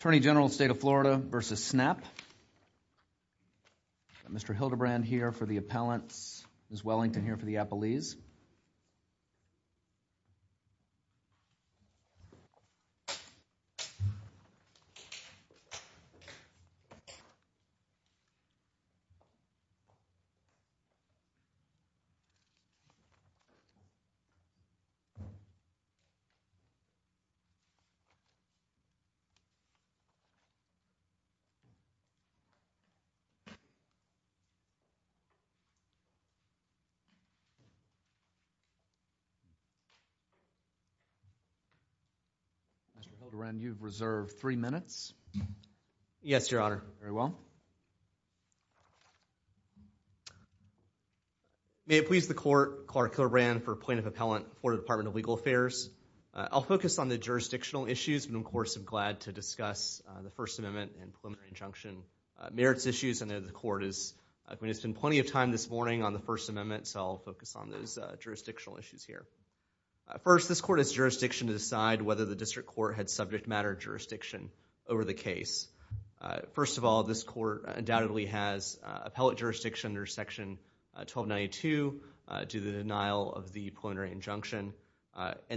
Attorney General, State of Florida, v. SNAP. Mr. Hildebrand here for the appellants, Ms. Wellington here for the appellees. Mr. Hildebrand, you have reserved three minutes. Yes, Your Honor. Very well. May it please the Court, Clark Hildebrand for Appointment of Appellant for the Department of Legal Affairs. I'll focus on the jurisdictional issues, but of course I'm glad to discuss the First Amendment and Preliminary Injunction merits issues, and the Court has spent plenty of time this morning on the First Amendment, so I'll focus on those jurisdictional issues here. First, this Court has jurisdiction to decide whether the District Court had subject matter jurisdiction over the case. First of all, this Court undoubtedly has appellate jurisdiction under Section 1292 due to the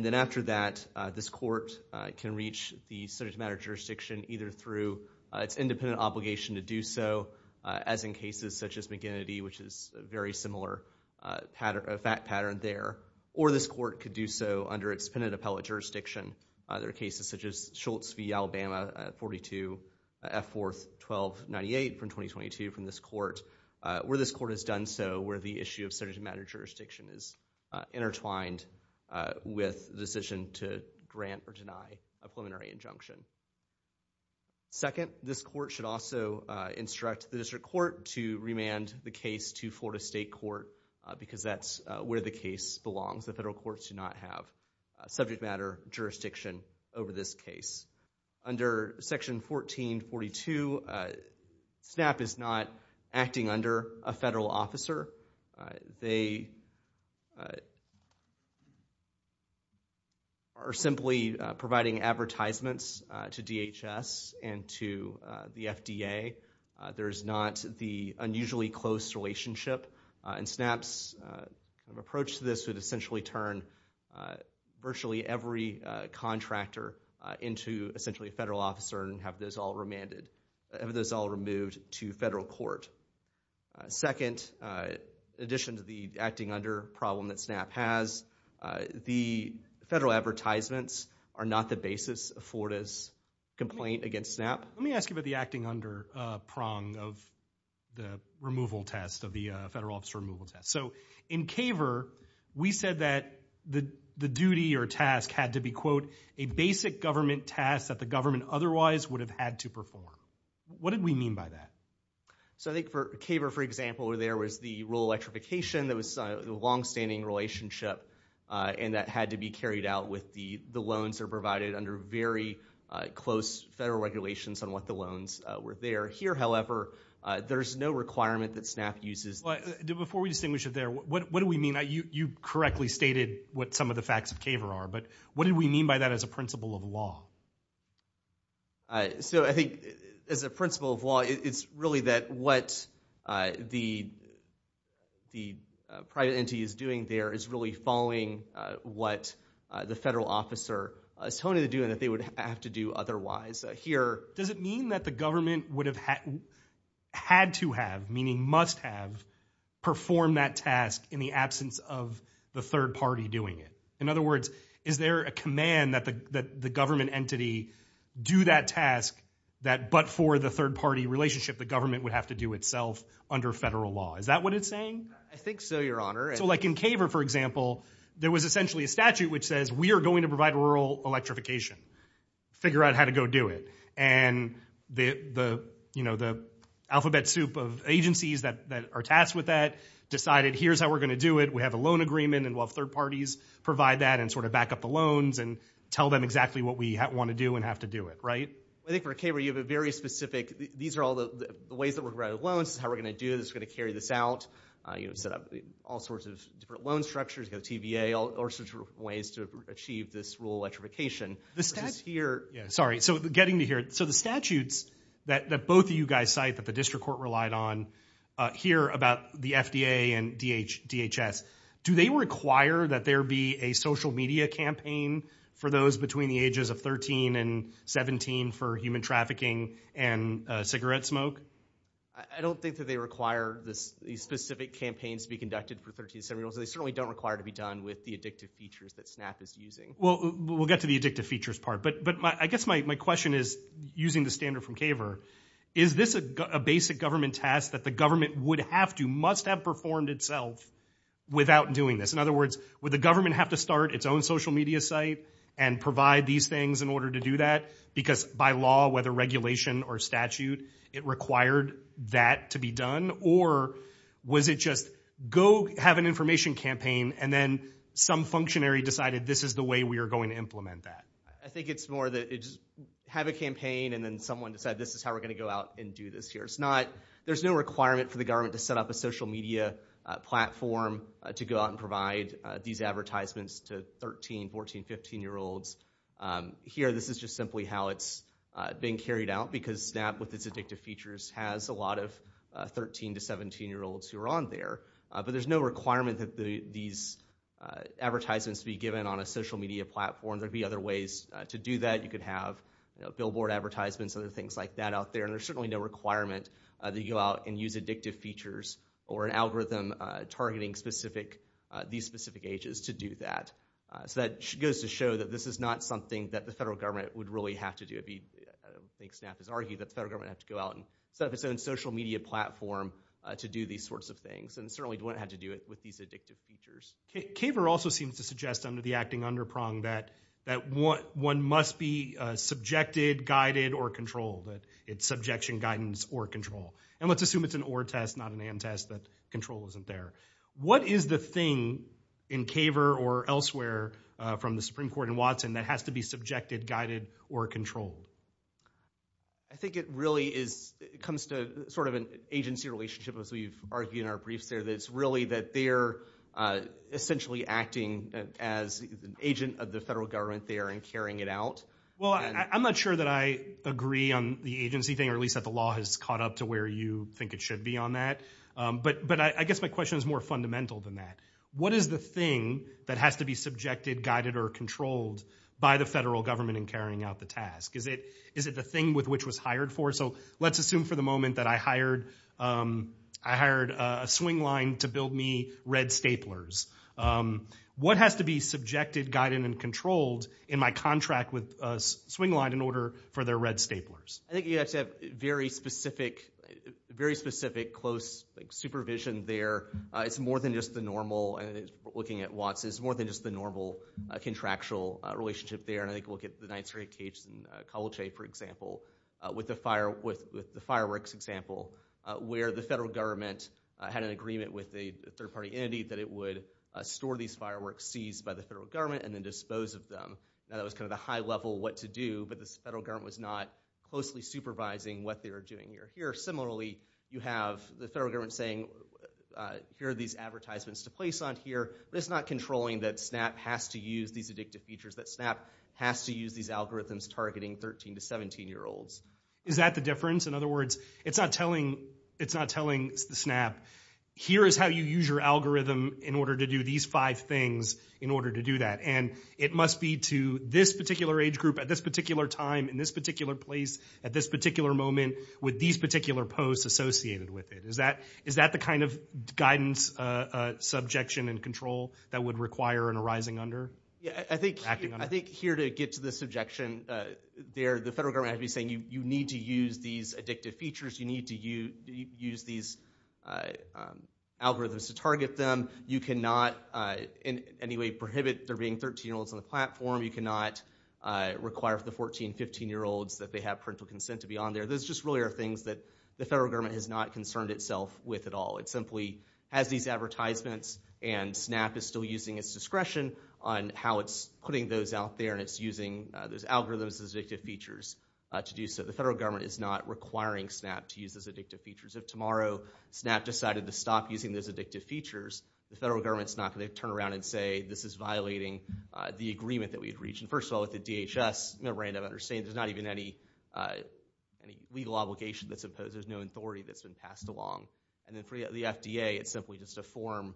And after that, this Court can reach the subject matter jurisdiction either through its independent obligation to do so, as in cases such as McGinnity, which is a very similar pattern there, or this Court could do so under its penitent appellate jurisdiction. There are cases such as Schultz v. Alabama, 42 F. 4th 1298 from 2022 from this Court, where this Court has done so, where the issue of subject matter jurisdiction is intertwined with the decision to grant or deny a preliminary injunction. Second, this Court should also instruct the District Court to remand the case to Florida State Court, because that's where the case belongs. The federal courts do not have subject matter jurisdiction over this case. Under Section 1442, SNAP is not acting under a federal officer. They are simply providing advertisements to DHS and to the FDA. There's not the unusually close relationship, and SNAP's approach to this would essentially turn virtually every contractor into, essentially, a federal officer and have those all remanded – have those all removed to federal court. Second, in addition to the acting under problem that SNAP has, the federal advertisements are not the basis of Florida's complaint against SNAP. Let me ask you about the acting under prong of the removal test, of the federal officer removal test. So, in Kaver, we said that the duty or task had to be, quote, a basic government task that the government otherwise would have had to perform. What did we mean by that? So, I think for Kaver, for example, where there was the rule of electrification, there was the longstanding relationship, and that had to be carried out with the loans that are provided under very close federal regulations on what the loans were there. Here, however, there's no requirement that SNAP uses – But, before we distinguish it there, what do we mean? You correctly stated what some of the facts of Kaver are, but what did we mean by that as a principle of law? So, I think, as a principle of law, it's really that what the private entity is doing there is really following what the federal officer is telling them to do and that they would have to do otherwise. Here – Does it mean that the government would have had to have, meaning must have, performed that task in the absence of the third party doing it? In other words, is there a command that the government entity do that task that, but for the third party relationship, the government would have to do itself under federal law? Is that what it's saying? I think so, Your Honor. So, like in Kaver, for example, there was essentially a statute which says, we are going to provide rural electrification. Figure out how to go do it. And the alphabet soup of agencies that are tasked with that decided, here's how we're going to do it. We have a loan agreement, and we'll have third parties provide that and sort of back up the loans and tell them exactly what we want to do and have to do it, right? I think for Kaver, you have a very specific – these are all the ways that we're going to write a loan. This is how we're going to do this. We're going to carry this out. You know, set up all sorts of different loan structures, you know, TVA, all sorts of ways to achieve this rural electrification. The statute – Yeah, sorry. So, getting to here. So, the statutes that both of you guys cite that the district court relied on here about the FDA and DHS, do they require that there be a social media campaign for those between the ages of 13 and 17 for human trafficking and cigarette smoke? I don't think that they require these specific campaigns to be conducted for 13 to 17-year-olds. They certainly don't require to be done with the addictive features that SNAP is using. Well, we'll get to the addictive features part. But I guess my question is, using the standard from Kaver, is this a basic government task that the government would have to, must have performed itself without doing this? In other words, would the government have to start its own social media site and provide these things in order to do that? Because by law, whether regulation or statute, it required that to be done? Or was it just go have an information campaign and then some functionary decided this is the way we are going to implement that? I think it's more that it's have a campaign and then someone decide this is how we're going to go out and do this here. It's not, there's no requirement for the government to set up a social media platform to go out and provide these advertisements to 13, 14, 15-year-olds. Here this is just simply how it's being carried out because SNAP, with its addictive features, has a lot of 13 to 17-year-olds who are on there. But there's no requirement that these advertisements be given on a social media platform. There'd be other ways to do that. You could have billboard advertisements, other things like that out there. And there's certainly no requirement that you go out and use addictive features or an algorithm targeting these specific ages to do that. So that goes to show that this is not something that the federal government would really have to do. I think SNAP has argued that the federal government would have to go out and set up its own social media platform to do these sorts of things. And it certainly wouldn't have to do it with these addictive features. Kaver also seems to suggest under the acting underprong that one must be subjected, guided, or controlled. It's subjection, guidance, or control. And let's assume it's an or test, not an and test, that control isn't there. What is the thing in Kaver or elsewhere from the Supreme Court in Watson that has to be subjected, guided, or controlled? I think it really comes to sort of an agency relationship as we've argued in our briefs there that it's really that they're essentially acting as an agent of the federal government there and carrying it out. Well, I'm not sure that I agree on the agency thing, or at least that the law has caught up to where you think it should be on that. But I guess my question is more fundamental than that. What is the thing that has to be subjected, guided, or controlled by the federal government in carrying out the task? Is it the thing with which it was hired for? So let's assume for the moment that I hired a swing line to build me red staplers. What has to be subjected, guided, and controlled in my contract with a swing line in order for their red staplers? I think you have to have very specific, very specific, close supervision there. It's more than just the normal, looking at Watson, it's more than just the normal contractual relationship there. And I think look at the Ninth Circuit case in Kovalche, for example, with the fireworks example, where the federal government had an agreement with a third party entity that it would store these fireworks seized by the federal government and then dispose of them. Now that was kind of the high level what to do, but the federal government was not closely supervising what they were doing here. Similarly, you have the federal government saying, here are these advertisements to place on here. But it's not controlling that SNAP has to use these addictive features, that SNAP has to use these algorithms targeting 13 to 17 year olds. Is that the difference? In other words, it's not telling, it's not telling the SNAP, here is how you use your algorithm in order to do these five things in order to do that. And it must be to this particular age group at this particular time, in this particular place, at this particular moment, with these particular posts associated with it. Is that the kind of guidance, subjection, and control that would require an arising under? Acting under? I think here to get to the subjection, the federal government has to be saying, you need to use these addictive features, you need to use these algorithms to target them. You cannot in any way prohibit there being 13 year olds on the platform. You cannot require for the 14, 15 year olds that they have parental consent to be on there. Those just really are things that the federal government has not concerned itself with at all. It simply has these advertisements and SNAP is still using its discretion on how it's putting those out there and it's using those algorithms, those addictive features to do so. The federal government is not requiring SNAP to use those addictive features. If tomorrow, SNAP decided to stop using those addictive features, the federal government is not going to turn around and say, this is violating the agreement that we had reached. And first of all, with the DHS, you know, Rand, I understand there's not even any legal obligation that's imposed. There's no authority that's been passed along. And then for the FDA, it's simply just a form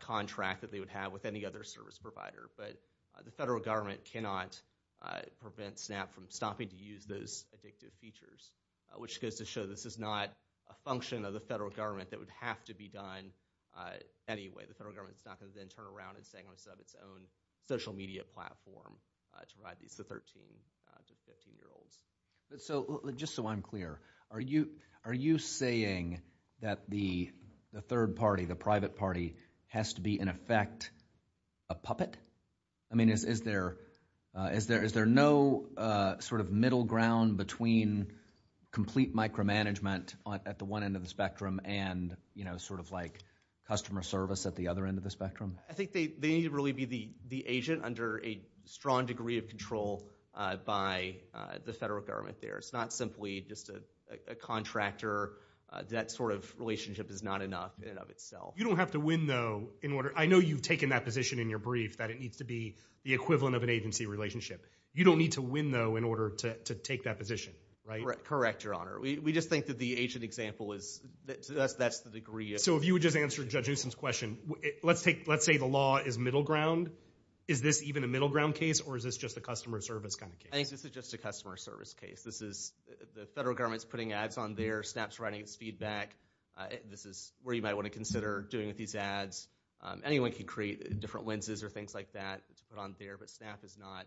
contract that they would have with any other service provider. But the federal government cannot prevent SNAP from stopping to use those addictive features, which goes to show this is not a function of the federal government that would have to be done anyway. The federal government is not going to then turn around and say, I'm going to set up its own social media platform to provide these to 13, 15 year olds. So just so I'm clear, are you, are you saying that the third party, the private party has to be, in effect, a puppet? I mean, is there, is there, is there no sort of middle ground between complete micromanagement at the one end of the spectrum and, you know, sort of like customer service at the other end of the spectrum? I think they need to really be the agent under a strong degree of control by the federal government there. It's not simply just a contractor. That sort of relationship is not enough in and of itself. You don't have to win, though, in order, I know you've taken that position in your brief that it needs to be the equivalent of an agency relationship. You don't need to win, though, in order to take that position, right? Correct, Your Honor. We just think that the agent example is, to us, that's the degree of. So if you would just answer Judge Houston's question, let's take, let's say the law is middle ground. Is this even a middle ground case or is this just a customer service kind of case? I think this is just a customer service case. This is the federal government's putting ads on there, SNAP's writing its feedback. This is where you might want to consider doing with these ads. Anyone can create different lenses or things like that to put on there, but SNAP is not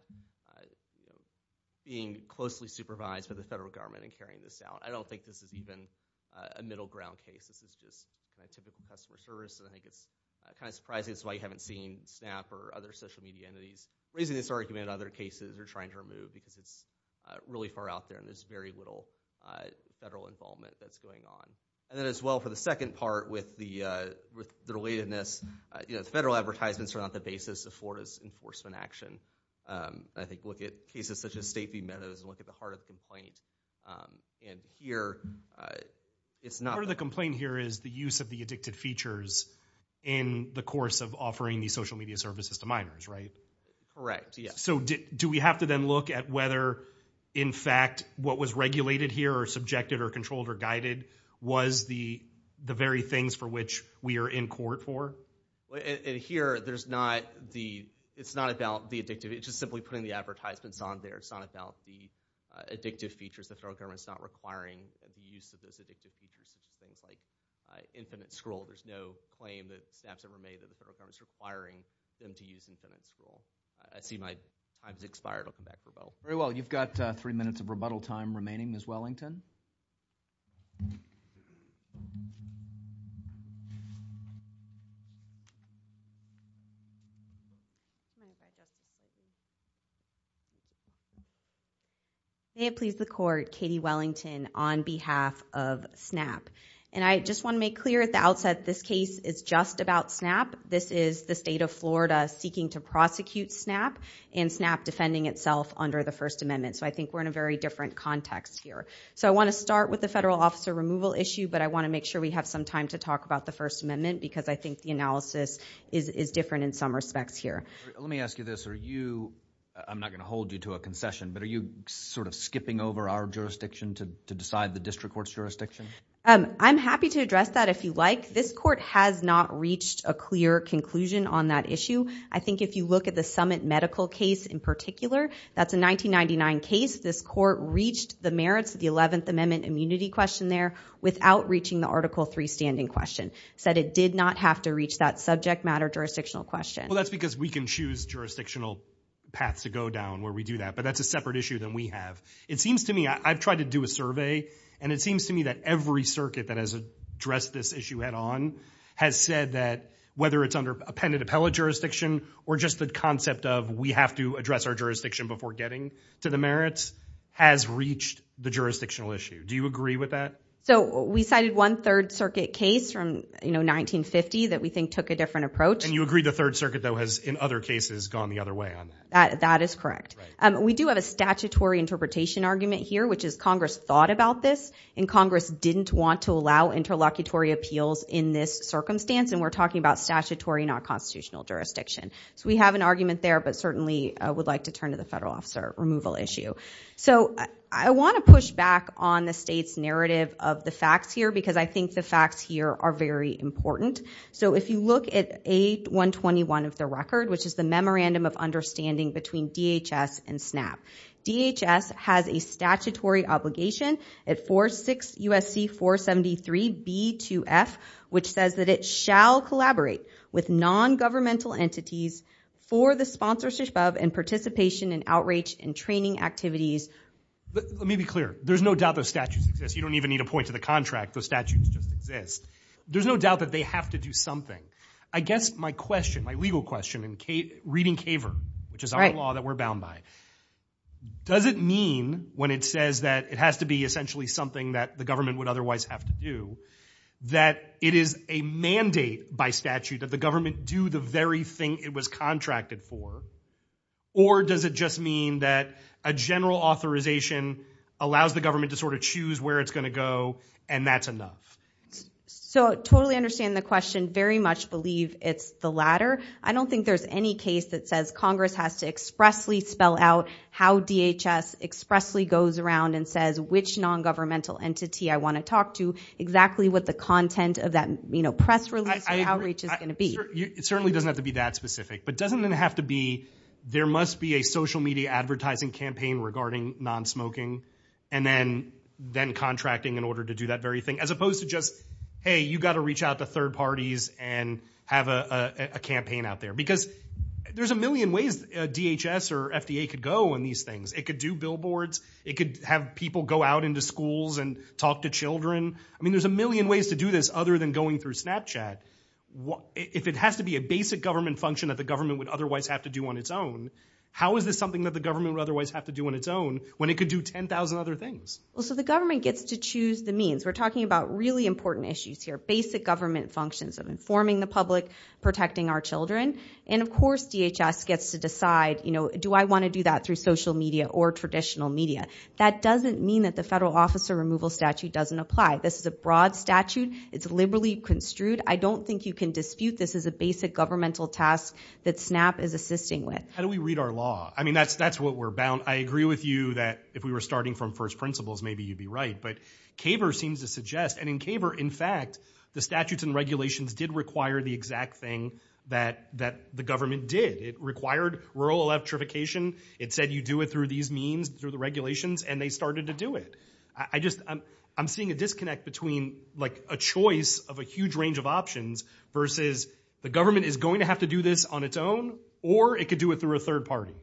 being closely supervised by the federal government in carrying this out. I don't think this is even a middle ground case. This is just a typical customer service, and I think it's kind of surprising this is why you haven't seen SNAP or other social media entities raising this argument in other cases or trying to remove because it's really far out there and there's very little federal involvement that's going on. And then as well for the second part with the relatedness, you know, the federal advertisements are not the basis of Florida's enforcement action. I think look at cases such as state v. Meadows and look at the heart of the complaint. And here, it's not... Part of the complaint here is the use of the addicted features in the course of offering these social media services to minors, right? Correct, yes. So do we have to then look at whether, in fact, what was regulated here or subjected or controlled or guided was the very things for which we are in court for? And here, there's not the... It's not about the addictive. It's just simply putting the advertisements on there. It's not about the addictive features. The federal government's not requiring the use of those addictive features in things like infinite scroll. There's no claim that SNAP's ever made that the federal government's requiring them to use infinite scroll. I see my time's expired. I'll come back for both. Very well. You've got three minutes of rebuttal time remaining, Ms. Wellington. May it please the court, Katie Wellington on behalf of SNAP. And I just want to make clear at the outset, this case is just about SNAP. This is the state of Florida seeking to prosecute SNAP and SNAP defending itself under the First Amendment. So I think we're in a very different context here. So I want to start with the federal officer removal issue, but I want to make sure we have some time to talk about the First Amendment because I think the analysis is different in some respects here. Let me ask you this. Are you... I'm not going to hold you to a concession, but are you sort of skipping over our jurisdiction to decide the district court's jurisdiction? I'm happy to address that if you like. This court has not reached a clear conclusion on that issue. I think if you look at the summit medical case in particular, that's a 1999 case. This court reached the merits of the 11th Amendment immunity question there without reaching the Article III standing question. It said it did not have to reach that subject matter jurisdictional question. Well, that's because we can choose jurisdictional paths to go down where we do that, but that's a separate issue than we have. It seems to me... I've tried to do a survey and it seems to me that every circuit that has addressed this issue head on has said that whether it's under appended appellate jurisdiction or just the concept of we have to address our jurisdiction before getting to the merits has reached the jurisdictional issue. Do you agree with that? So we cited one Third Circuit case from 1950 that we think took a different approach. And you agree the Third Circuit though has, in other cases, gone the other way on that? That is correct. We do have a statutory interpretation argument here, which is Congress thought about this and Congress didn't want to allow interlocutory appeals in this circumstance, and we're talking about statutory, not constitutional jurisdiction. So we have an argument there, but certainly I would like to turn to the federal officer removal issue. So I want to push back on the state's narrative of the facts here because I think the facts here are very important. So if you look at 8-121 of the record, which is the Memorandum of Understanding between DHS and SNAP, DHS has a statutory obligation. It 4-6 U.S.C. 473 B-2F, which says that it shall collaborate with non-governmental entities for the sponsorship of and participation in outreach and training activities. Let me be clear. There's no doubt those statutes exist. You don't even need to point to the contract. Those statutes just exist. There's no doubt that they have to do something. I guess my question, my legal question in reading CAVR, which is our law that we're Does it mean when it says that it has to be essentially something that the government would otherwise have to do, that it is a mandate by statute that the government do the very thing it was contracted for? Or does it just mean that a general authorization allows the government to sort of choose where it's going to go and that's enough? So totally understand the question. Very much believe it's the latter. I don't think there's any case that says Congress has to expressly spell out how DHS expressly goes around and says which non-governmental entity I want to talk to exactly what the content of that press release and outreach is going to be. It certainly doesn't have to be that specific, but doesn't it have to be there must be a social media advertising campaign regarding non-smoking and then contracting in order to do that very thing as opposed to just, hey, you got to reach out to third parties and have a campaign out there. Because there's a million ways DHS or FDA could go on these things. It could do billboards. It could have people go out into schools and talk to children. I mean, there's a million ways to do this other than going through Snapchat. If it has to be a basic government function that the government would otherwise have to do on its own, how is this something that the government would otherwise have to do on its own when it could do 10,000 other things? Well, so the government gets to choose the means. We're talking about really important issues here, basic government functions of informing the public, protecting our children. And of course, DHS gets to decide, you know, do I want to do that through social media or traditional media? That doesn't mean that the federal officer removal statute doesn't apply. This is a broad statute. It's liberally construed. I don't think you can dispute this as a basic governmental task that SNAP is assisting with. How do we read our law? I mean, that's what we're bound. I agree with you that if we were starting from first principles, maybe you'd be right. But CABR seems to suggest, and in CABR, in fact, the statutes and regulations did require the exact thing that the government did. It required rural electrification. It said you do it through these means, through the regulations, and they started to do it. I just, I'm seeing a disconnect between like a choice of a huge range of options versus the government is going to have to do this on its own or it could do it through a third party.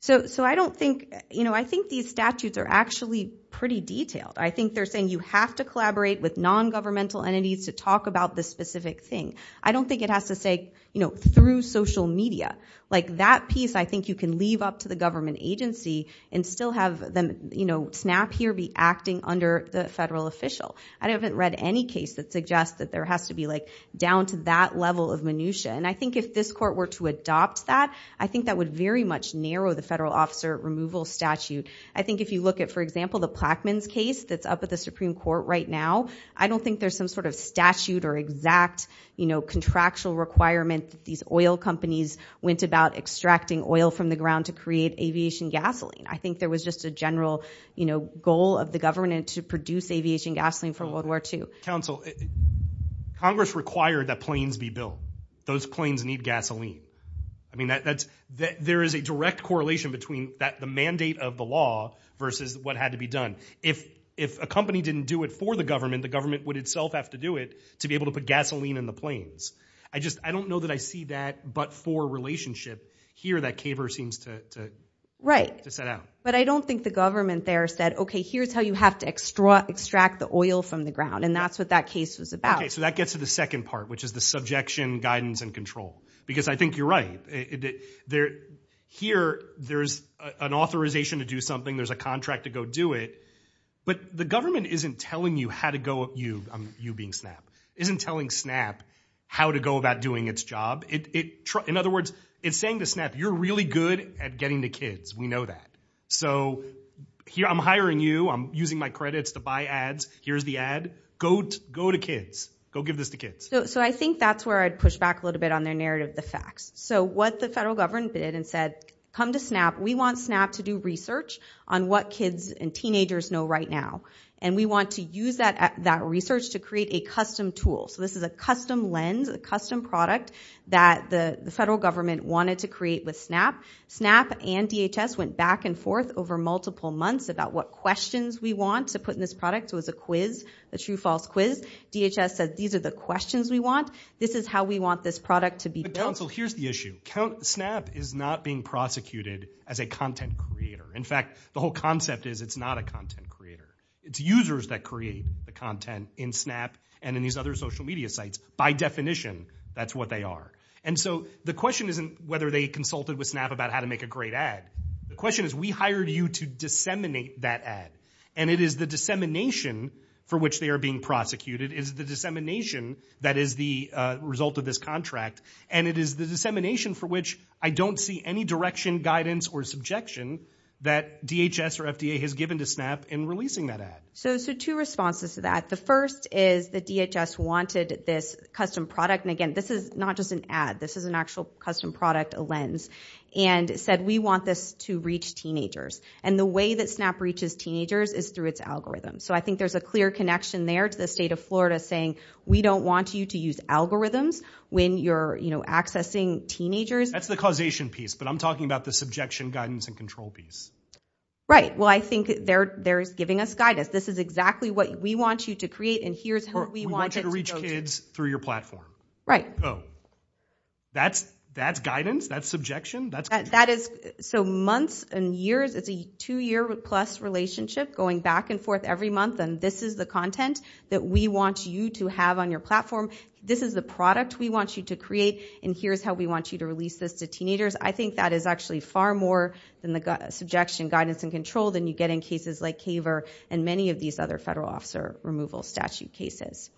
So I don't think, you know, I think these statutes are actually pretty detailed. I think they're saying you have to collaborate with non-governmental entities to talk about this specific thing. I don't think it has to say, you know, through social media. Like that piece, I think you can leave up to the government agency and still have them, you know, SNAP here be acting under the federal official. I haven't read any case that suggests that there has to be like down to that level of minutiae. And I think if this court were to adopt that, I think that would very much narrow the federal officer removal statute. I think if you look at, for example, the Plaquemines case that's up at the Supreme Court right now, I don't think there's some sort of statute or exact, you know, contractual requirement that these oil companies went about extracting oil from the ground to create aviation gasoline. I think there was just a general, you know, goal of the government to produce aviation gasoline for World War II. Counsel, Congress required that planes be built. Those planes need gasoline. I mean, there is a direct correlation between the mandate of the law versus what had to be done. If a company didn't do it for the government, the government would itself have to do it to be able to put gasoline in the planes. I just, I don't know that I see that but for relationship here that Kaver seems to set out. But I don't think the government there said, okay, here's how you have to extract the oil from the ground. And that's what that case was about. Okay. So that gets to the second part, which is the subjection, guidance, and control. Because I think you're right. Here there's an authorization to do something. There's a contract to go do it. But the government isn't telling you how to go, you being Snap, isn't telling Snap how to go about doing its job. In other words, it's saying to Snap, you're really good at getting the kids. We know that. So here I'm hiring you. I'm using my credits to buy ads. Here's the ad. Go to kids. Go give this to kids. So I think that's where I'd push back a little bit on their narrative, the facts. So what the federal government did and said, come to Snap. We want Snap to do research on what kids and teenagers know right now. And we want to use that research to create a custom tool. So this is a custom lens, a custom product that the federal government wanted to create with Snap. Snap and DHS went back and forth over multiple months about what questions we want to put in this product. It was a quiz, a true false quiz. DHS said, these are the questions we want. This is how we want this product to be built. But Council, here's the issue. Snap is not being prosecuted as a content creator. In fact, the whole concept is it's not a content creator. It's users that create the content in Snap and in these other social media sites. By definition, that's what they are. And so the question isn't whether they consulted with Snap about how to make a great ad. The question is, we hired you to disseminate that ad. And it is the dissemination for which they are being prosecuted is the dissemination that is the result of this contract. And it is the dissemination for which I don't see any direction, guidance, or subjection that DHS or FDA has given to Snap in releasing that ad. So two responses to that. The first is that DHS wanted this custom product. And again, this is not just an ad. This is an actual custom product, a lens. And said, we want this to reach teenagers. And the way that Snap reaches teenagers is through its algorithm. So I think there's a clear connection there to the state of Florida saying, we don't want you to use algorithms when you're accessing teenagers. That's the causation piece, but I'm talking about the subjection, guidance, and control piece. Right. Well, I think they're giving us guidance. This is exactly what we want you to create. And here's who we want you to go to. We want you to reach kids through your platform. Right. Oh. That's guidance? That's subjection? That's control? So months and years, it's a two-year-plus relationship going back and forth every month. And this is the content that we want you to have on your platform. This is the product we want you to create. And here's how we want you to release this to teenagers. I think that is actually far more than the subjection, guidance, and control than you get in cases like CAVER and many of these other federal officer removal statute cases.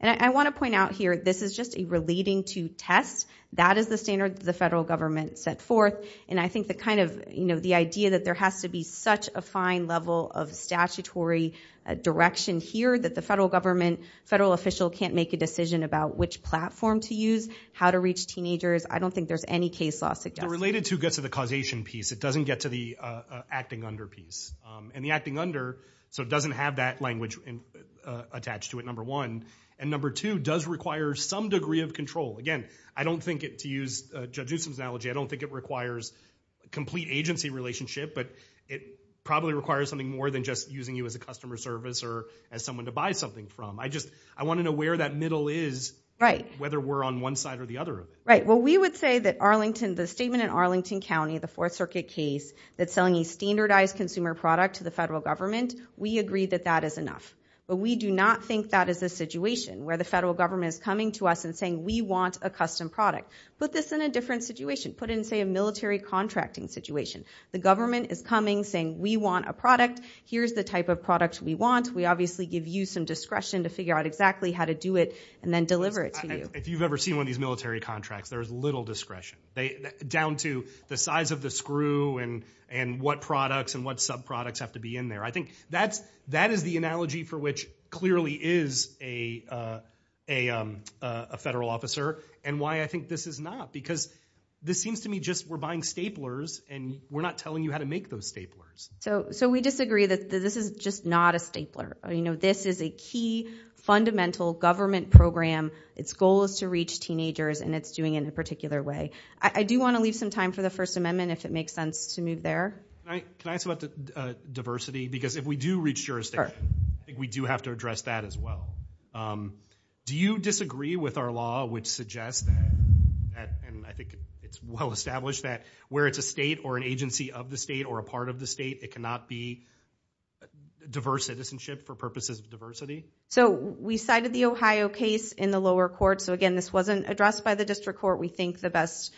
And I want to point out here, this is just a relating to test. That is the standard that the federal government set forth. And I think the idea that there has to be such a fine level of statutory direction here that the federal government, federal official, can't make a decision about which platform to use, how to reach teenagers. I don't think there's any case law suggestion. The related to gets to the causation piece. It doesn't get to the acting under piece. And the acting under, so it doesn't have that language attached to it, number one. And number two, does require some degree of control. Again, I don't think it, to use Judge Newsom's analogy, I don't think it requires complete agency relationship, but it probably requires something more than just using you as a customer service or as someone to buy something from. I just, I want to know where that middle is, whether we're on one side or the other. Right. Well, we would say that Arlington, the statement in Arlington County, the Fourth Circuit case, that's selling a standardized consumer product to the federal government, we agree that that is enough. But we do not think that is the situation where the federal government is coming to us and saying, we want a custom product. Put this in a different situation. Put it in, say, a military contracting situation. The government is coming, saying, we want a product. Here's the type of product we want. We obviously give you some discretion to figure out exactly how to do it and then deliver it to you. If you've ever seen one of these military contracts, there is little discretion. Down to the size of the screw and what products and what sub-products have to be in there. I think that is the analogy for which clearly is a federal officer and why I think this is not. Because this seems to me just, we're buying staplers and we're not telling you how to make those staplers. So we disagree that this is just not a stapler. This is a key, fundamental government program. Its goal is to reach teenagers and it's doing it in a particular way. I do want to leave some time for the First Amendment, if it makes sense to move there. Can I ask about diversity? Because if we do reach jurisdiction, I think we do have to address that as well. Do you disagree with our law which suggests that, and I think it's well established that where it's a state or an agency of the state or a part of the state, it cannot be diverse citizenship for purposes of diversity? So we cited the Ohio case in the lower court. So again, this wasn't addressed by the district court. We think the best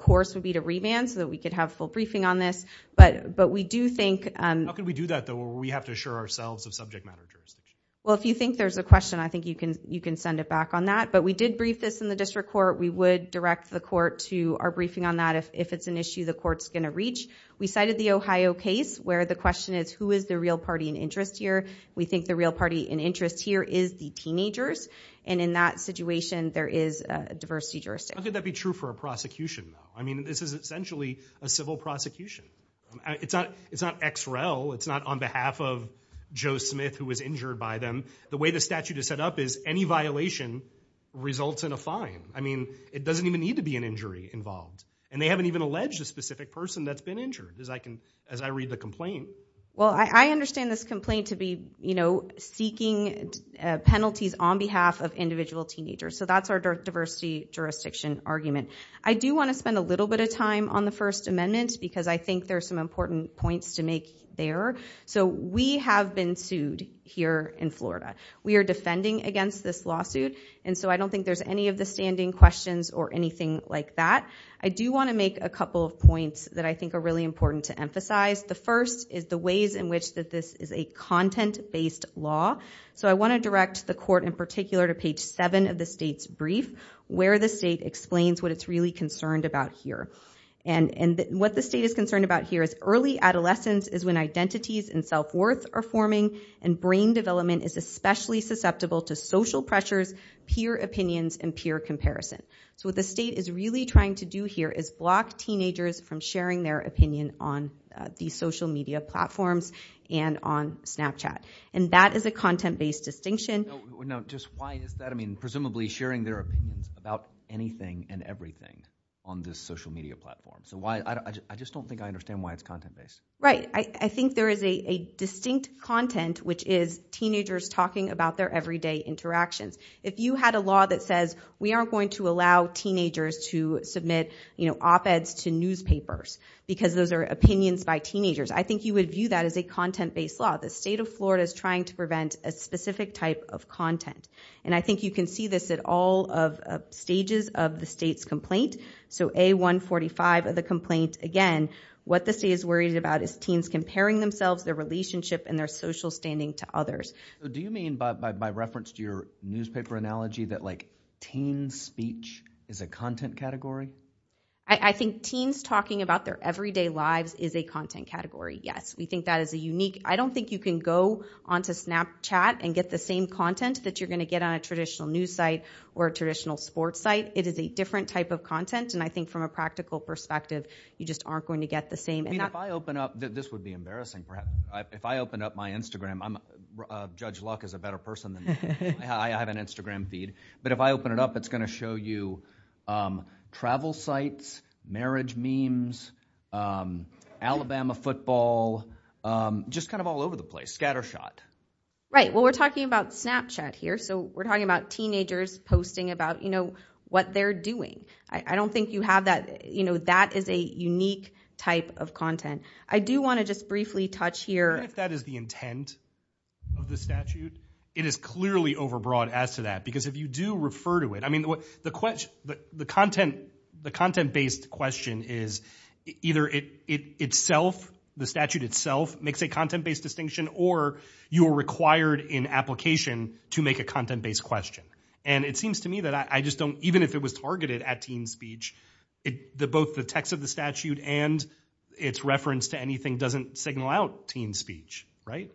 course would be to remand so that we could have full briefing on this. But we do think- How can we do that though where we have to assure ourselves of subject matter jurisdiction? Well, if you think there's a question, I think you can send it back on that. But we did brief this in the district court. We would direct the court to our briefing on that if it's an issue the court's going to reach. We cited the Ohio case where the question is, who is the real party in interest here? We think the real party in interest here is the teenagers. And in that situation, there is a diversity jurisdiction. How could that be true for a prosecution though? I mean, this is essentially a civil prosecution. It's not XREL. It's not on behalf of Joe Smith who was injured by them. The way the statute is set up is any violation results in a fine. I mean, it doesn't even need to be an injury involved. And they haven't even alleged a specific person that's been injured as I read the complaint. Well, I understand this complaint to be seeking penalties on behalf of individual teenagers. So that's our diversity jurisdiction argument. I do want to spend a little bit of time on the First Amendment because I think there's some important points to make there. So we have been sued here in Florida. We are defending against this lawsuit. And so I don't think there's any of the standing questions or anything like that. I do want to make a couple of points that I think are really important to emphasize. The first is the ways in which that this is a content-based law. So I want to direct the court in particular to page 7 of the state's brief where the state explains what it's really concerned about here. And what the state is concerned about here is early adolescence is when identities and self-worth are forming and brain development is especially susceptible to social pressures, peer opinions, and peer comparison. So what the state is really trying to do here is block teenagers from sharing their opinion on these social media platforms and on Snapchat. And that is a content-based distinction. No, just why is that? I mean, presumably sharing their opinions about anything and everything on this social media platform. So why? I just don't think I understand why it's content-based. Right. I think there is a distinct content, which is teenagers talking about their everyday interactions. If you had a law that says we aren't going to allow teenagers to submit op-eds to newspapers because those are opinions by teenagers, I think you would view that as a content-based law. The state of Florida is trying to prevent a specific type of content. And I think you can see this at all stages of the state's complaint. So A145 of the complaint, again, what the state is worried about is teens comparing themselves, their relationship, and their social standing to others. Do you mean by reference to your newspaper analogy that teen speech is a content category? I think teens talking about their everyday lives is a content category, yes. We think that is a unique. I don't think you can go onto Snapchat and get the same content that you're going to get on a traditional news site or a traditional sports site. It is a different type of content, and I think from a practical perspective, you just aren't going to get the same. I mean, if I open up—this would be embarrassing, perhaps—if I open up my Instagram, Judge Luck is a better person than me. I have an Instagram feed. But if I open it up, it's going to show you travel sites, marriage memes, Alabama football, just kind of all over the place, scattershot. Right, well, we're talking about Snapchat here, so we're talking about teenagers posting about what they're doing. I don't think you have that—that is a unique type of content. I do want to just briefly touch here— If that is the intent of the statute, it is clearly overbroad as to that, because if you do refer to it—I mean, the content-based question is either itself, the statute itself makes a content-based distinction, or you are required in application to make a content-based question. And it seems to me that I just don't—even if it was targeted at teen speech, both the text of the statute and its reference to anything doesn't signal out teen speech, right?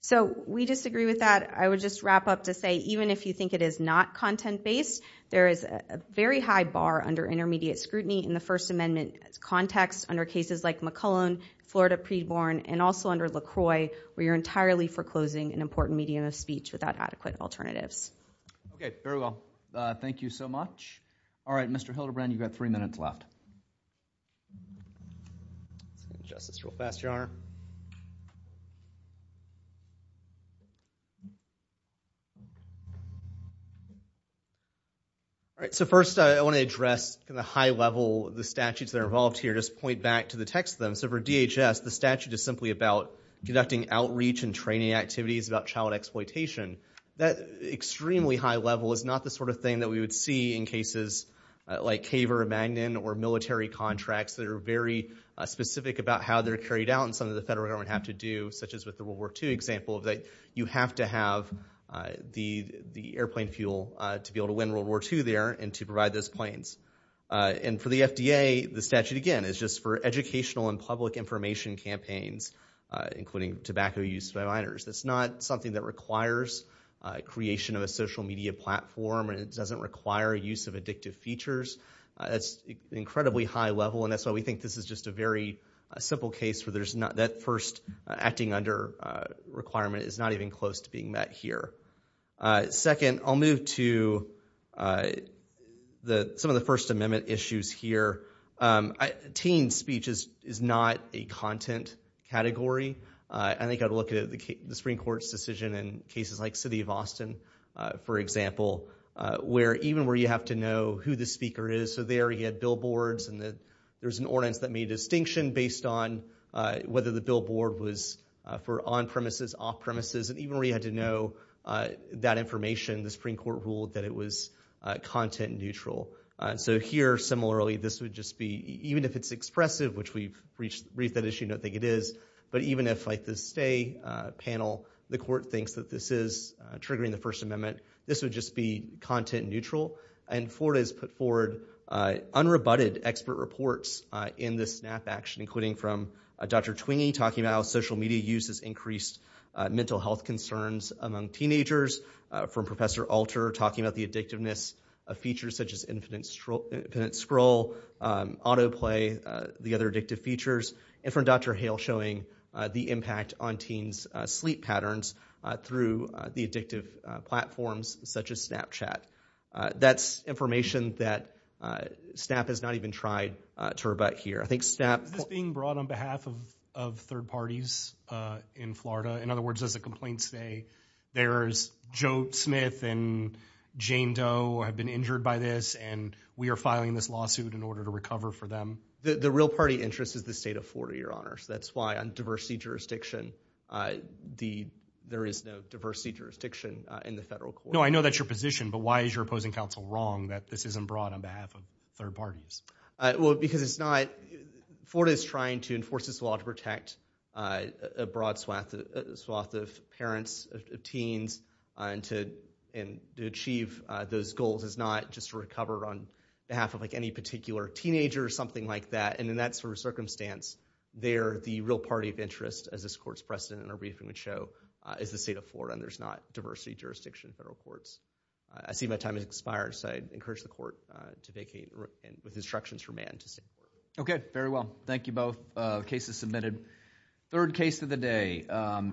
So we disagree with that. I would just wrap up to say, even if you think it is not content-based, there is a very high bar under intermediate scrutiny in the First Amendment context under cases like McClellan, Florida Preborn, and also under LaCroix, where you're entirely foreclosing an important medium of speech without adequate alternatives. Okay, very well. Thank you so much. All right, Mr. Hildebrand, you've got three minutes left. Justice, real fast, Your Honor. All right, so first, I want to address the high level—the statutes that are involved here, just point back to the text of them. So for DHS, the statute is simply about conducting outreach and training activities about child exploitation. That extremely high level is not the sort of thing that we would see in cases like Kaver, Magnin, or military contracts that are very specific about how they're carried out and some of the federal government have to do, such as with the World War II example, that you have to have the airplane fuel to be able to win World War II there and to provide those planes. And for the FDA, the statute, again, is just for educational and public information campaigns, including tobacco use by minors. That's not something that requires creation of a social media platform, and it doesn't require use of addictive features. That's incredibly high level, and that's why we think this is just a very simple case where that first acting under requirement is not even close to being met here. Second, I'll move to some of the First Amendment issues here. Teen speech is not a content category. I think I'd look at the Supreme Court's decision in cases like City of Austin, for example, where even where you have to know who the speaker is, so there he had billboards and there's an ordinance that made a distinction based on whether the billboard was for on that information. The Supreme Court ruled that it was content neutral. So here, similarly, this would just be, even if it's expressive, which we've reached that issue, don't think it is, but even if like the stay panel, the court thinks that this is triggering the First Amendment, this would just be content neutral. And Florida has put forward unrebutted expert reports in this SNAP action, including from Dr. Twingy talking about how social media uses increased mental health concerns among teenagers, from Professor Alter talking about the addictiveness of features such as infinite scroll, auto play, the other addictive features, and from Dr. Hale showing the impact on teens' sleep patterns through the addictive platforms such as Snapchat. That's information that SNAP has not even tried to rebut here. I think SNAP- Is this being brought on behalf of third parties in Florida? In other words, does the complaint say there's Joe Smith and Jane Doe have been injured by this and we are filing this lawsuit in order to recover for them? The real party interest is the state of Florida, Your Honor. So that's why on diversity jurisdiction, there is no diversity jurisdiction in the federal court. No, I know that's your position, but why is your opposing counsel wrong that this isn't brought on behalf of third parties? Because it's not- Florida is trying to enforce this law to protect a broad swath of parents, of teens, and to achieve those goals. It's not just to recover on behalf of any particular teenager or something like that. And in that sort of circumstance, they're the real party of interest, as this court's precedent in our briefing would show, is the state of Florida. And there's not diversity jurisdiction in federal courts. I see my time has expired, so I encourage the court to vacate with instructions from Anne to stay. Okay, very well. Thank you both. The case is submitted. Third case of the day.